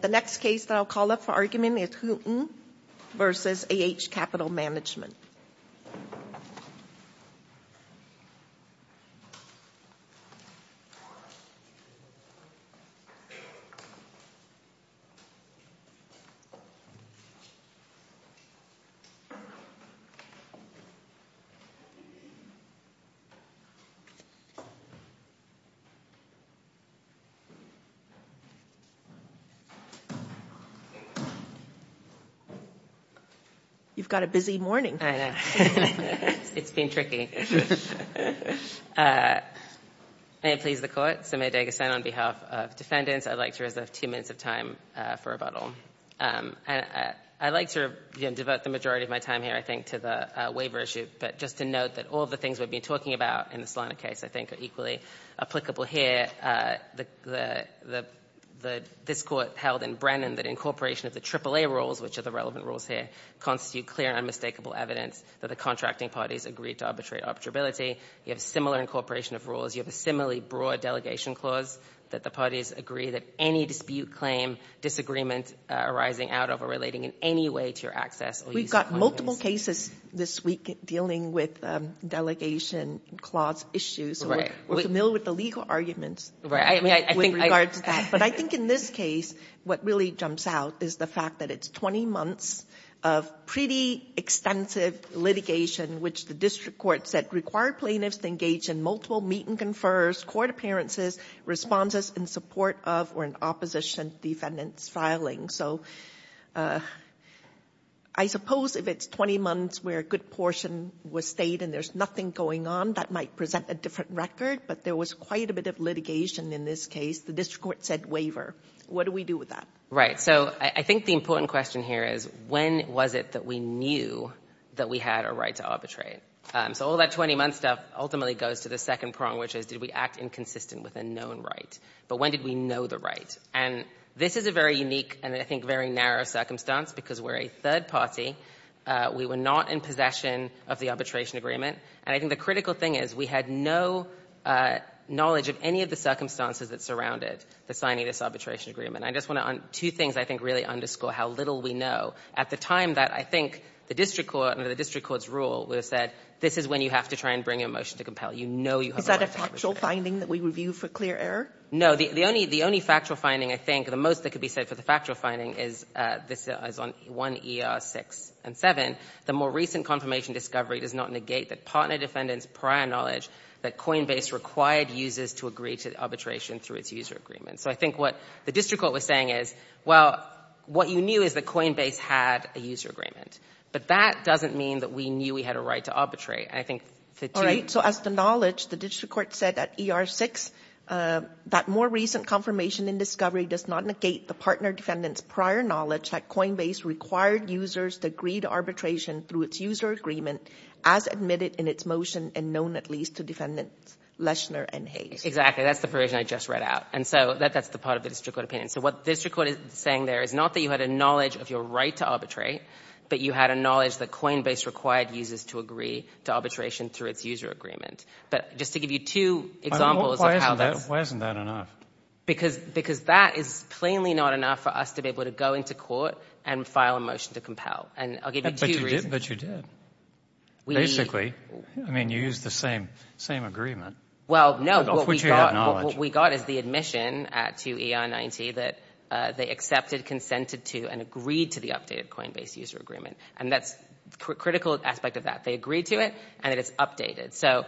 The next case that I'll call up for argument is Houghton v. AH Capital Management You've got a busy morning. I know. It's been tricky. May it please the Court, Samir Dagestan on behalf of defendants, I'd like to reserve two minutes of time for rebuttal. I'd like to devote the majority of my time here, I think, to the waiver issue, but just to note that all of the things we've been talking about in the Solana case I think are equally applicable here. This Court held in Brennan that incorporation of the AAA rules, which are the relevant rules here, constitute clear and unmistakable evidence that the contracting parties agreed to arbitrate arbitrability. You have a similar incorporation of rules. You have a similarly broad delegation clause that the parties agree that any dispute claim disagreement arising out of or relating in any way to your access or use of condominiums We've got multiple cases this week dealing with delegation clause issues. We're familiar with the legal arguments with regards to that. But I think in this case what really jumps out is the fact that it's 20 months of pretty extensive litigation, which the district court said required plaintiffs to engage in multiple meet-and-confers, court appearances, responses in support of or in opposition to defendants filing. So I suppose if it's 20 months where a good portion was stayed and there's nothing going on, that might present a different record. But there was quite a bit of litigation in this case. The district court said waiver. What do we do with that? Right. So I think the important question here is when was it that we knew that we had a right to arbitrate? So all that 20-month stuff ultimately goes to the second prong, which is did we act inconsistent with a known right? But when did we know the right? And this is a very unique and I think very narrow circumstance because we're a third party. We were not in possession of the arbitration agreement. And I think the critical thing is we had no knowledge of any of the circumstances that surrounded the signing of this arbitration agreement. I just want to, two things I think really underscore how little we know. At the time that I think the district court, under the district court's rule, said this is when you have to try and bring a motion to compel. You know you have a right to arbitrate. Is that a factual finding that we review for clear error? No. The only factual finding, I think, the most that could be said for the factual finding is this is on 1 ER 6 and 7. The more recent confirmation discovery does not negate the partner defendant's prior knowledge that Coinbase required users to agree to arbitration through its user agreement. So I think what the district court was saying is, well, what you knew is that Coinbase had a user agreement. But that doesn't mean that we knew we had a right to arbitrate. All right. So as to knowledge, the district court said at ER 6 that more recent confirmation in discovery does not negate the partner defendant's prior knowledge that Coinbase required users to agree to arbitration through its user agreement as admitted in its motion and known at least to defendants Leschner and Hayes. Exactly. That's the provision I just read out. And so that's the part of the district court opinion. So what the district court is saying there is not that you had a knowledge of your right to arbitrate, but you had a knowledge that Coinbase required users to agree to arbitration through its user agreement. But just to give you two examples of how this Why isn't that enough? Because that is plainly not enough for us to be able to go into court and file a motion to compel. And I'll give you two reasons. But you did. Basically, I mean, you used the same agreement. Well, no. What we got is the admission to ER 90 that they accepted, consented to, and agreed to the updated Coinbase user agreement. And that's a critical aspect of that. They agreed to it, and it is updated. So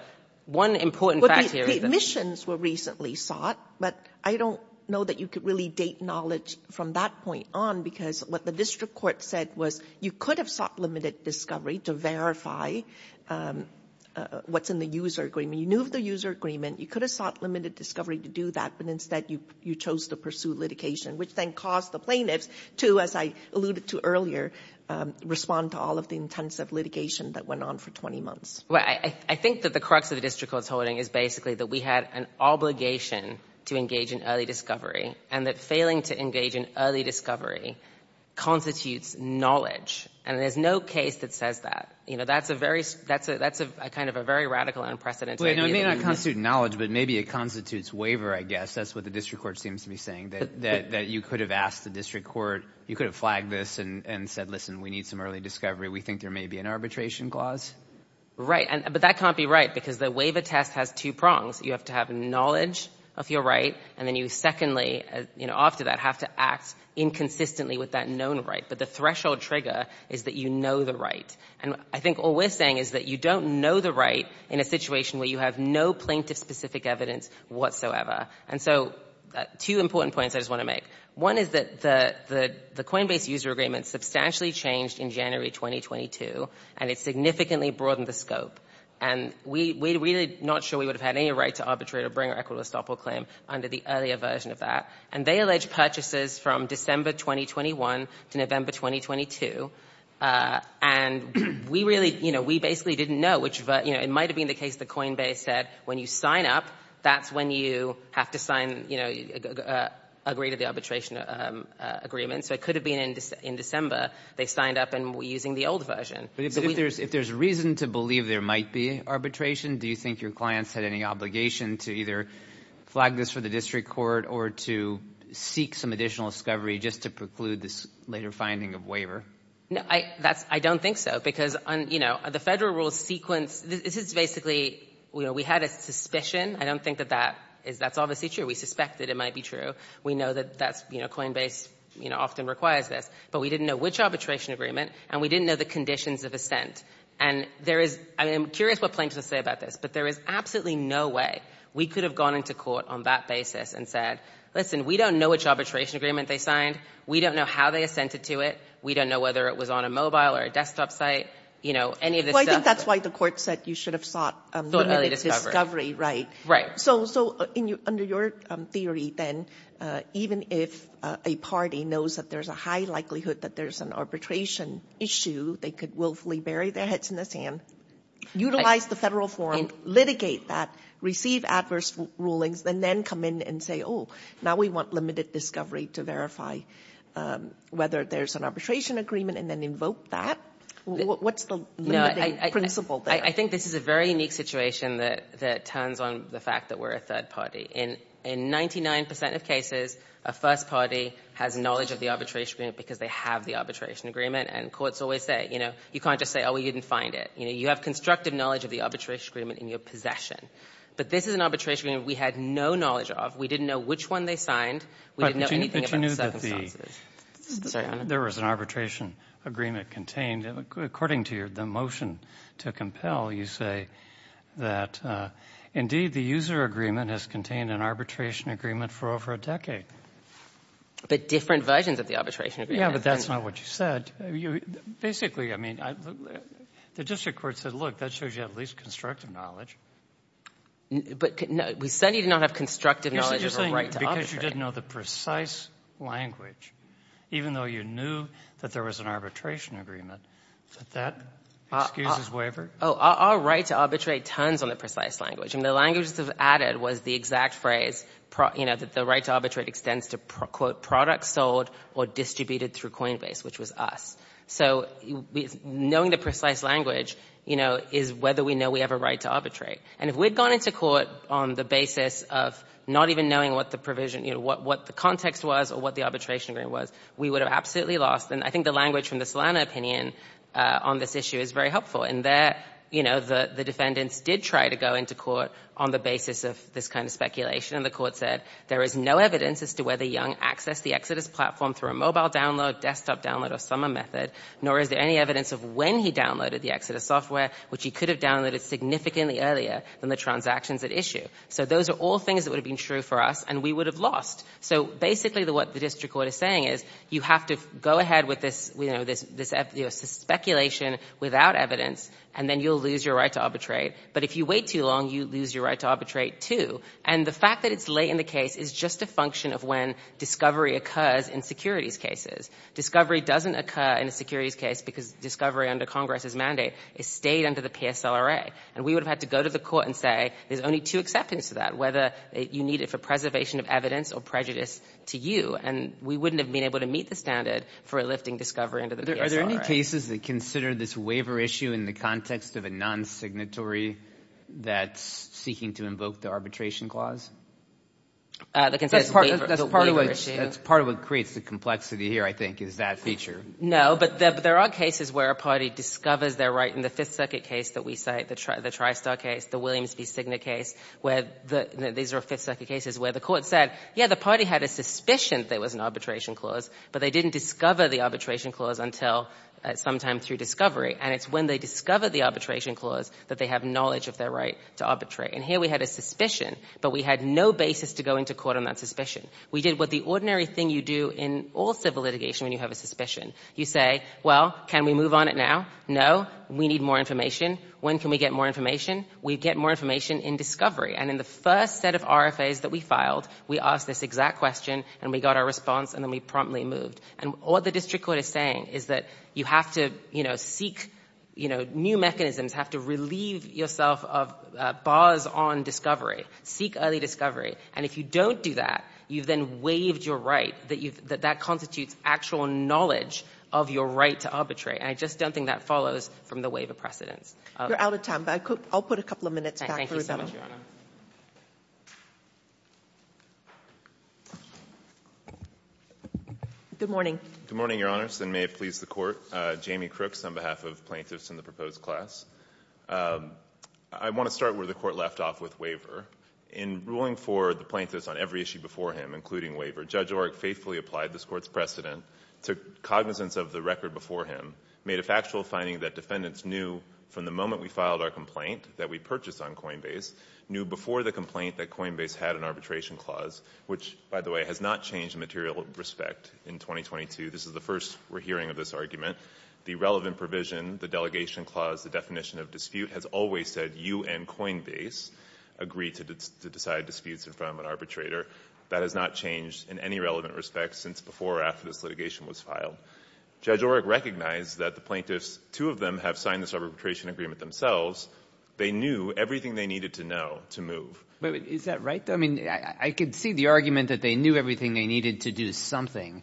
one important fact here is that The admissions were recently sought. But I don't know that you could really date knowledge from that point on, because what the district court said was you could have sought limited discovery to verify what's in the user agreement. You knew of the user agreement. You could have sought limited discovery to do that. But instead, you chose to pursue litigation, which then caused the plaintiffs to, as I alluded to earlier, respond to all of the intensive litigation that went on for 20 months. Well, I think that the crux of the district court's holding is basically that we had an obligation to engage in early discovery, and that failing to engage in early discovery constitutes knowledge. And there's no case that says that. You know, that's a very, that's a, that's a kind of a very radical, unprecedented idea. Well, it may not constitute knowledge, but maybe it constitutes waiver, I guess. That's what the district court seems to be saying, that you could have asked the district court, you could have flagged this and said, listen, we need some early discovery. We think there may be an arbitration clause. Right. But that can't be right, because the waiver test has two prongs. You have to have knowledge of your right, and then you secondly, you know, after that, have to act inconsistently with that known right. But the threshold trigger is that you know the right. And I think all we're saying is that you don't know the right in a situation where you have no plaintiff-specific evidence whatsoever. And so, two important points I just want to make. One is that the Coinbase user agreement substantially changed in January 2022, and it significantly broadened the scope. And we're really not sure we would have had any right to arbitrate or bring a record of estoppel claim under the earlier version of that. And they allege purchases from December 2021 to November 2022. And we really, you know, we basically didn't know which, you know, it might have been the case that Coinbase said, when you sign up, that's when you have to sign, you know, agree to the arbitration agreement. So it could have been in December, they signed up and were using the old version. But if there's reason to believe there might be arbitration, do you think your clients had any obligation to either flag this for the district court or to seek some additional discovery just to preclude this later finding of waiver? No, I don't think so. Because, you know, the federal rules sequence, this is basically, we had a suspicion. I don't think that that is, that's obviously true. We suspect that it might be true. We know that that's, you know, Coinbase, you know, often requires this, but we didn't know which arbitration agreement and we didn't know the conditions of assent. And there is, I am curious what plaintiffs will say about this, but there is absolutely no way we could have gone into court on that basis and said, listen, we don't know which arbitration agreement they signed. We don't know how they assented to it. We don't know whether it was on a mobile or a desktop site, you know, any of this stuff. That's why the court said you should have sought limited discovery, right? So under your theory then, even if a party knows that there's a high likelihood that there's an arbitration issue, they could willfully bury their heads in the sand, utilize the federal forum, litigate that, receive adverse rulings, and then come in and say, oh, now we want limited discovery to verify whether there's an arbitration agreement and then invoke that? What's the principle there? I think this is a very unique situation that turns on the fact that we're a third party. In 99 percent of cases, a first party has knowledge of the arbitration agreement because they have the arbitration agreement. And courts always say, you know, you can't just say, oh, we didn't find it. You know, you have constructive knowledge of the arbitration agreement in your possession. But this is an arbitration agreement we had no knowledge of. We didn't know which one they signed. We didn't know anything about the circumstances. Sorry, Your Honor. There was an arbitration agreement contained. According to the motion to compel, you say that, indeed, the user agreement has contained an arbitration agreement for over a decade. But different versions of the arbitration agreement. Yeah, but that's not what you said. Basically, I mean, the district court said, look, that shows you have at least constructive knowledge. But we said you did not have constructive knowledge of the right to arbitrate. Because you didn't know the precise language, even though you knew that there was an arbitration agreement, that that excuses waiver. Oh, our right to arbitrate turns on the precise language. And the language that was added was the exact phrase, you know, that the right to arbitrate extends to, quote, products sold or distributed through Coinbase, which was us. So knowing the precise language, you know, is whether we know we have a right to arbitrate. And if we had gone into court on the basis of not even knowing what the provision, you know, what the context was or what the arbitration agreement was, we would have absolutely lost. And I think the language from the Solano opinion on this issue is very helpful. And there, you know, the defendants did try to go into court on the basis of this kind of speculation. And the court said there is no evidence as to whether Young accessed the Exodus platform through a mobile download, desktop download, or summer method, nor is there any evidence of when he downloaded the Exodus software, which he could have downloaded significantly earlier than the transactions at issue. So those are all things that would have been true for us, and we would have lost. So basically what the district court is saying is you have to go ahead with this, you know, this speculation without evidence, and then you'll lose your right to arbitrate. But if you wait too long, you lose your right to arbitrate, too. And the fact that it's late in the case is just a function of when discovery occurs in securities cases. Discovery doesn't occur in a securities case because discovery under Congress's mandate is stayed under the PSLRA. And we would have had to go to the court and say there's only two acceptances to that, whether you need it for preservation of evidence or prejudice to you. And we wouldn't have been able to meet the standard for lifting discovery under the PSLRA. Are there any cases that consider this waiver issue in the context of a non-signatory that's seeking to invoke the arbitration clause? That's part of what creates the complexity here, I think, is that feature. No, but there are cases where a party discovers their right in the Fifth Circuit case that we cite, the TriStar case, the Williams v. Cigna case, where these are Fifth Circuit cases where the court said, yeah, the party had a suspicion that there was an arbitration clause, but they didn't discover the arbitration clause until sometime through discovery. And it's when they discover the arbitration clause that they have knowledge of their right to arbitrate. And here we had a suspicion, but we had no basis to go into court on that suspicion. We did what the ordinary thing you do in all civil litigation when you have a suspicion. You say, well, can we move on it now? No, we need more information. When can we get more information? We get more information in discovery. And in the first set of RFAs that we filed, we asked this exact question, and we got our response, and then we promptly moved. And what the district court is saying is that you have to seek new mechanisms, have to relieve yourself of bars on discovery, seek early discovery. And if you don't do that, you've then waived your right, that that constitutes actual knowledge of your right to arbitrate. And I just don't think that follows from the waiver precedents. You're out of time, but I'll put a couple of minutes back for rebuttal. Thank you so much, Your Honor. Good morning. Good morning, Your Honors, and may it please the Court. Jamie Crooks on behalf of plaintiffs in the proposed class. I want to start where the Court left off with waiver. In ruling for the plaintiffs on every issue before him, including waiver, Judge Oreck faithfully applied this Court's precedent, took cognizance of the record before him, made a factual finding that defendants knew from the moment we filed our complaint that we purchased on Coinbase, knew before the complaint that Coinbase had an arbitration clause, which, by the way, has not changed in material respect in 2022. This is the first we're hearing of this argument. The relevant provision, the delegation clause, the definition of dispute has always said you and Coinbase agree to decide disputes in front of an arbitrator. That has not changed in any relevant respect since before or after this litigation was filed. Judge Oreck recognized that the plaintiffs, two of them, have signed this arbitration agreement themselves. They knew everything they needed to know to move. Is that right, though? I mean, I could see the argument that they knew everything they needed to do something,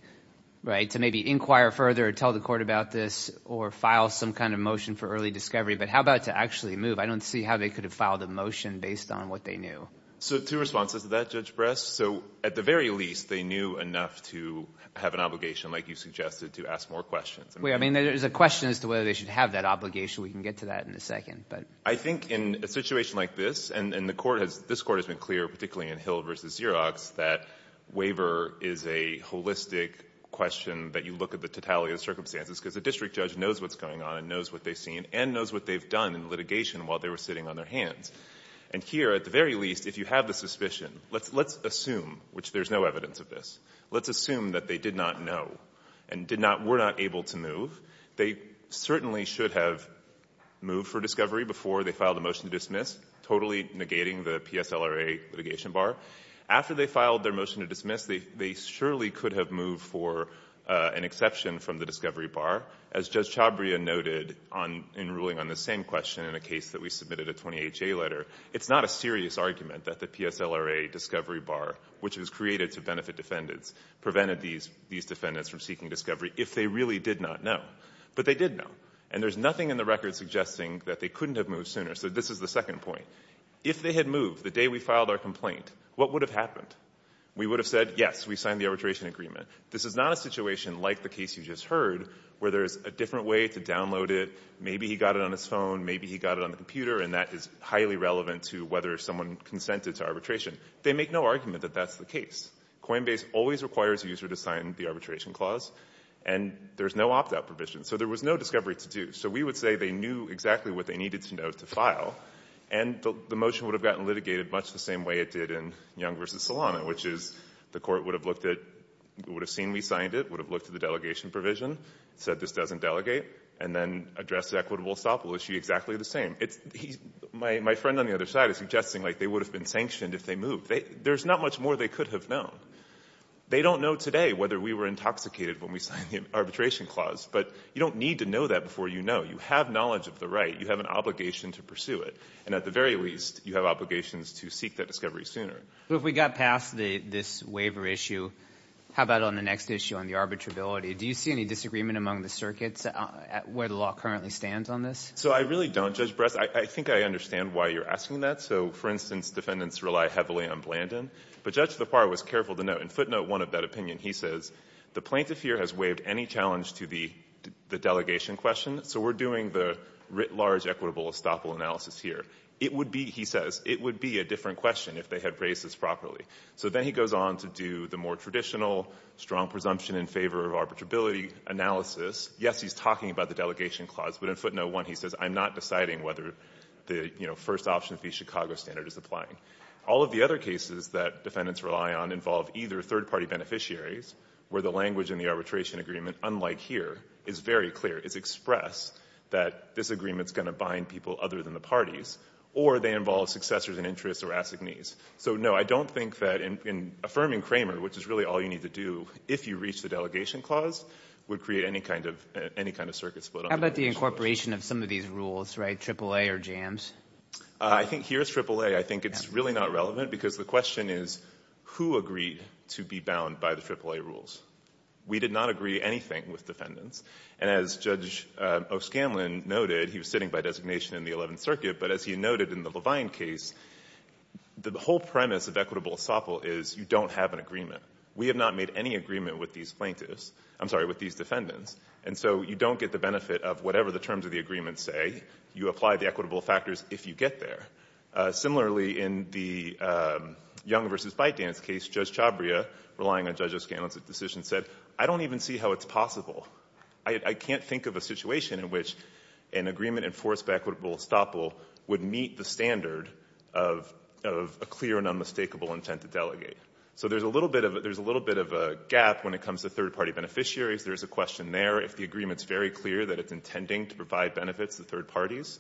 right, to maybe inquire further, tell the Court about this, or file some kind of motion for early discovery, but how about to actually move? I don't see how they could have filed a motion based on what they knew. So two responses to that, Judge Brest. So at the very least, they knew enough to have an obligation, like you suggested, to ask more questions. Wait, I mean, there's a question as to whether they should have that obligation. We can get to that in a second, but... I think in a situation like this, and the Court has, this Court has been clear, particularly in Hill v. Xerox, that waiver is a holistic question that you look at the totality of the circumstances, because the district judge knows what's going on and knows what they've seen and knows what they've done in litigation while they were sitting on their hands. And here, at the very least, if you have the suspicion, let's assume, which there's no evidence of this, let's assume that they did not know and did not, were not able to move. They certainly should have moved for discovery before they filed a motion to dismiss, totally negating the PSLRA litigation bar. After they filed their motion to dismiss, they surely could have moved for an exception from the discovery bar. As Judge Chabria noted in ruling on the same question in a case that we submitted a 28-J letter, it's not a serious argument that the PSLRA discovery bar, which was created to benefit defendants, prevented these defendants from seeking discovery if they really did not know. But they did know. And there's nothing in the record suggesting that they couldn't have moved sooner. So this is the second point. If they had moved the day we filed our complaint, what would have happened? We would have said, yes, we signed the arbitration agreement. This is not a situation like the case you just heard, where there's a different way to download it. Maybe he got it on his phone. Maybe he got it on the computer. And that is highly relevant to whether someone consented to arbitration. They make no argument that that's the case. Coinbase always requires a user to sign the arbitration clause. And there's no opt-out provision. So there was no discovery to do. So we would say they knew exactly what they needed to know to file. And the motion would have gotten litigated much the same way it did in Young v. Solano, which is, the court would have looked at, would have seen we signed it, would have looked at the delegation provision, said this doesn't delegate, and then addressed the equitable estoppel issue exactly the same. My friend on the other side is suggesting, like, they would have been sanctioned if they moved. There's not much more they could have known. They don't know today whether we were intoxicated when we signed the arbitration clause. But you don't need to know that before you know. You have knowledge of the right. You have an obligation to pursue it. And at the very least, you have obligations to seek that discovery sooner. So if we got past this waiver issue, how about on the next issue, on the arbitrability, do you see any disagreement among the circuits where the law currently stands on this? So I really don't, Judge Brest. I think I understand why you're asking that. So, for instance, defendants rely heavily on Blandin. But Judge LaPorte was careful to note, in footnote 1 of that opinion, he says, the plaintiff here has waived any challenge to the delegation question, so we're doing the writ large equitable estoppel analysis here. It would be, he says, it would be a different question if they had raised this properly. So then he goes on to do the more traditional, strong presumption in favor of arbitrability analysis. Yes, he's talking about the delegation clause, but in footnote 1, he says, I'm not deciding whether the, you know, first option of the Chicago standard is applying. All of the other cases that defendants rely on involve either third-party beneficiaries, where the language in the arbitration agreement, unlike here, is very clear. It's expressed that this agreement is going to bind people other than the parties, or they involve successors in interest or assignees. So, no, I don't think that in affirming Kramer, which is really all you need to do, if you reach the delegation clause, would create any kind of, any kind of circuit split on the delegation clause. How about the incorporation of some of these rules, right, AAA or JAMS? I think here's AAA. I think it's really not relevant, because the question is, who agreed to be bound by the AAA rules? We did not agree anything with defendants. And as Judge O'Scanlan noted, he was sitting by designation in the Eleventh Circuit, but as he noted in the Levine case, the whole premise of equitable estoppel is you don't have an agreement. We have not made any agreement with these plaintiffs, I'm sorry, with these defendants. And so you don't get the benefit of whatever the terms of the agreement say. You apply the equitable factors if you get there. Similarly, in the Young v. Byte Dance case, Judge Chabria, relying on Judge O'Scanlan's decision, said, I don't even see how it's possible. I can't think of a situation in which an agreement enforced by equitable estoppel would meet the standard of a clear and unmistakable intent to delegate. So there's a little bit of a gap when it comes to third-party beneficiaries. There's a question there, if the agreement's very clear that it's intending to provide benefits to third parties,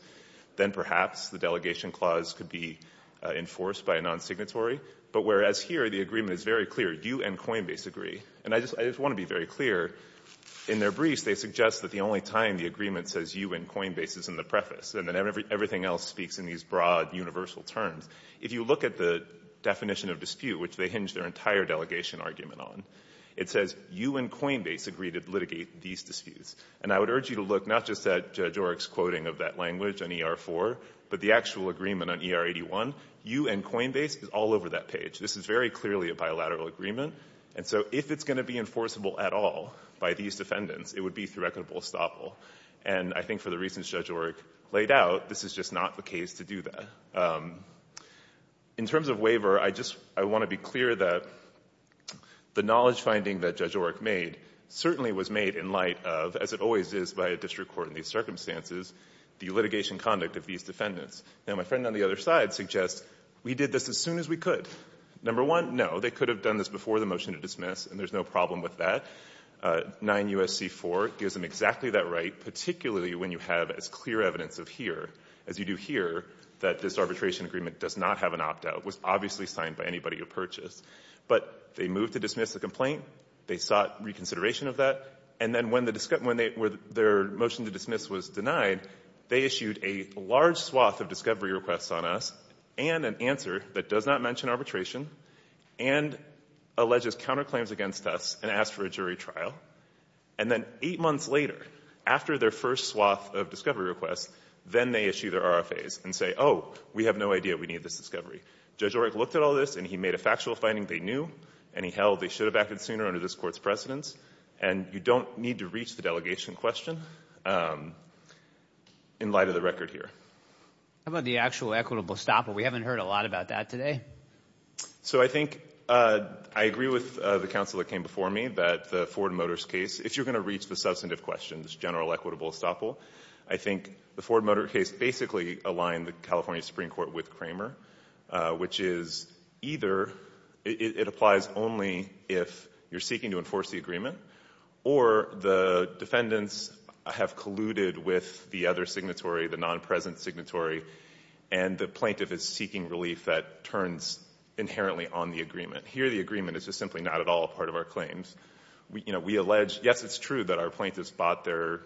then perhaps the delegation clause could be enforced by a non-signatory. But whereas here, the agreement is very clear, you and Coinbase agree, and I just want to be very clear, in their briefs, they suggest that the only time the agreement says you and Coinbase is in the preface, and then everything else speaks in these broad, universal terms, if you look at the definition of dispute, which they hinge their entire delegation argument on, it says you and Coinbase agree to litigate these disputes. And I would urge you to look not just at Judge O'Rourke's quoting of that language on ER-4, but the actual agreement on ER-81. You and Coinbase is all over that page. This is very clearly a bilateral agreement. And so if it's going to be enforceable at all by these defendants, it would be through equitable estoppel. And I think for the reasons Judge O'Rourke laid out, this is just not the case to do that. In terms of waiver, I just want to be clear that the knowledge finding that Judge O'Rourke made certainly was made in light of, as it always is by a district court in these circumstances, the litigation conduct of these defendants. Now, my friend on the other side suggests we did this as soon as we could. Number one, no, they could have done this before the motion to dismiss, and there's no problem with that. 9 U.S.C. 4 gives them exactly that right, particularly when you have as clear evidence of here as you do here that this arbitration agreement does not have an opt-out. It was obviously signed by anybody who purchased. But they moved to dismiss the complaint. They sought reconsideration of that. And then when the discussion, when their motion to dismiss was denied, they issued a large swath of discovery requests on us and an answer that does not mention arbitration and alleges counterclaims against us, and asked for a jury trial. And then eight months later, after their first swath of discovery requests, then they issue their RFAs and say, oh, we have no idea we need this discovery. Judge O'Rourke looked at all this, and he made a factual finding they knew, and he held they should have acted sooner under this Court's precedence. And you don't need to reach the delegation question in light of the record here. How about the actual equitable stop? We haven't heard a lot about that today. So I think I agree with the counsel that came before me that the Ford Motors case, if you're going to reach the substantive questions, general equitable estoppel, I think the Ford Motor case basically aligned the California Supreme Court with Kramer, which is either it applies only if you're seeking to enforce the agreement, or the defendants have colluded with the other signatory, the non-present signatory, and the plaintiff is seeking relief that turns inherently on the agreement. Here, the agreement is just simply not at all a part of our claims. We allege, yes, it's true that our plaintiffs bought their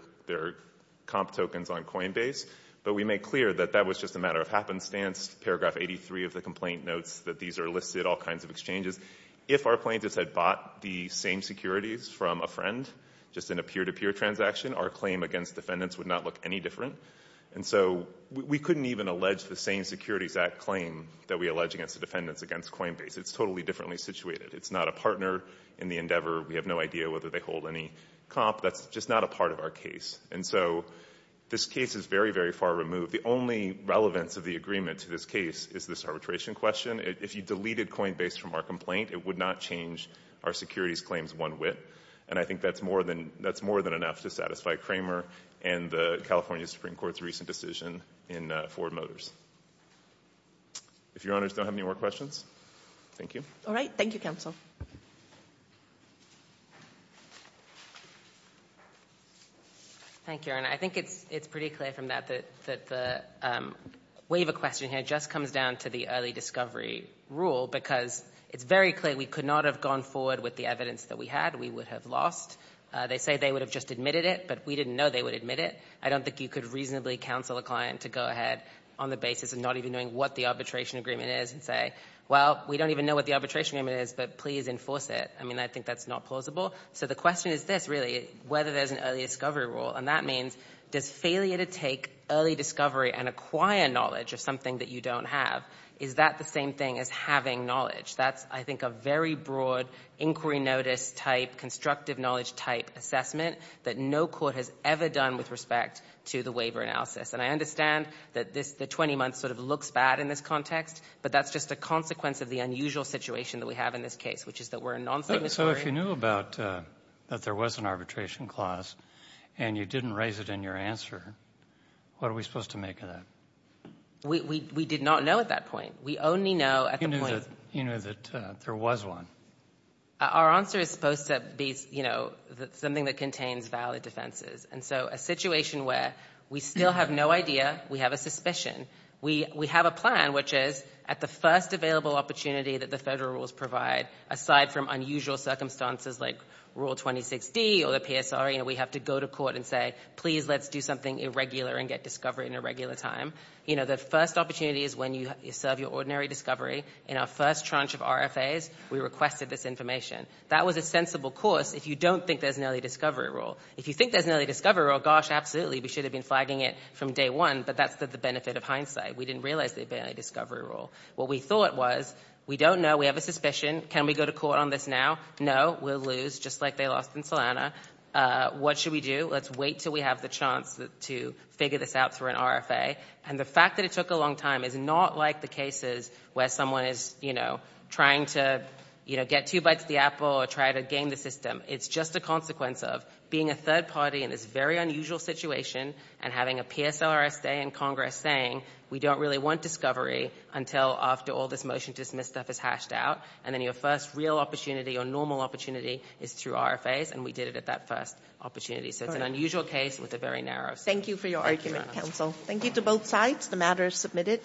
comp tokens on Coinbase, but we make clear that that was just a matter of happenstance. Paragraph 83 of the complaint notes that these are listed, all kinds of exchanges. If our plaintiffs had bought the same securities from a friend, just in a peer-to-peer transaction, our claim against defendants would not look any different. And so, we couldn't even allege the same Securities Act claim that we allege against the defendants against Coinbase. It's totally differently situated. It's not a partner in the endeavor. We have no idea whether they hold any comp. That's just not a part of our case. And so, this case is very, very far removed. The only relevance of the agreement to this case is this arbitration question. If you deleted Coinbase from our complaint, it would not change our securities claims one whit, and I think that's more than enough to satisfy Kramer and the California Supreme Court's recent decision in Ford Motors. If Your Honors don't have any more questions. Thank you. All right. Thank you, Counsel. Thank you, Your Honor. I think it's pretty clear from that that the waiver question here just comes down to the early discovery rule because it's very clear we could not have gone forward with the evidence that we had. We would have lost. They say they would have just admitted it, but we didn't know they would admit it. I don't think you could reasonably counsel a client to go ahead on the basis of not even knowing what the arbitration agreement is and say, well, we don't even know what the arbitration agreement is, but please enforce it. I mean, I think that's not plausible. So, the question is this, really, whether there's an early discovery rule. And that means, does failure to take early discovery and acquire knowledge of something that you don't have, is that the same thing as having knowledge? That's, I think, a very broad inquiry notice type, constructive knowledge type assessment that no court has ever done with respect to the waiver analysis. And I understand that this, the 20 months sort of looks bad in this context, but that's just a consequence of the unusual situation that we have in this case, which is that we're a non-signatory. So, if you knew about, that there was an arbitration clause and you didn't raise it in your answer, what are we supposed to make of that? We did not know at that point. We only know at the point. You knew that there was one. Our answer is supposed to be something that contains valid defenses. And so, a situation where we still have no idea, we have a suspicion. We have a plan, which is, at the first available opportunity that the federal rules provide, aside from unusual circumstances like Rule 26D or the PSR, we have to go to court and say, please, let's do something irregular and get discovery in a regular time. The first opportunity is when you serve your ordinary discovery. In our first tranche of RFAs, we requested this information. That was a sensible course if you don't think there's an early discovery rule. If you think there's an early discovery rule, gosh, absolutely, we should have been flagging it from day one, but that's the benefit of hindsight. We didn't realize there'd be an early discovery rule. What we thought was, we don't know, we have a suspicion. Can we go to court on this now? No, we'll lose, just like they lost in Salana. What should we do? Let's wait until we have the chance to figure this out through an RFA. The fact that it took a long time is not like the cases where someone is trying to get two bites of the apple or try to game the system. It's just a consequence of being a third party in this very unusual situation and having a PSLRSA in Congress saying, we don't really want discovery until after all this motion to dismiss stuff is hashed out, and then your first real opportunity or normal opportunity is through RFAs, and we did it at that first opportunity. It's an unusual case with a very narrow scope. Thank you for your argument, counsel. Thank you to both sides. The matter is submitted.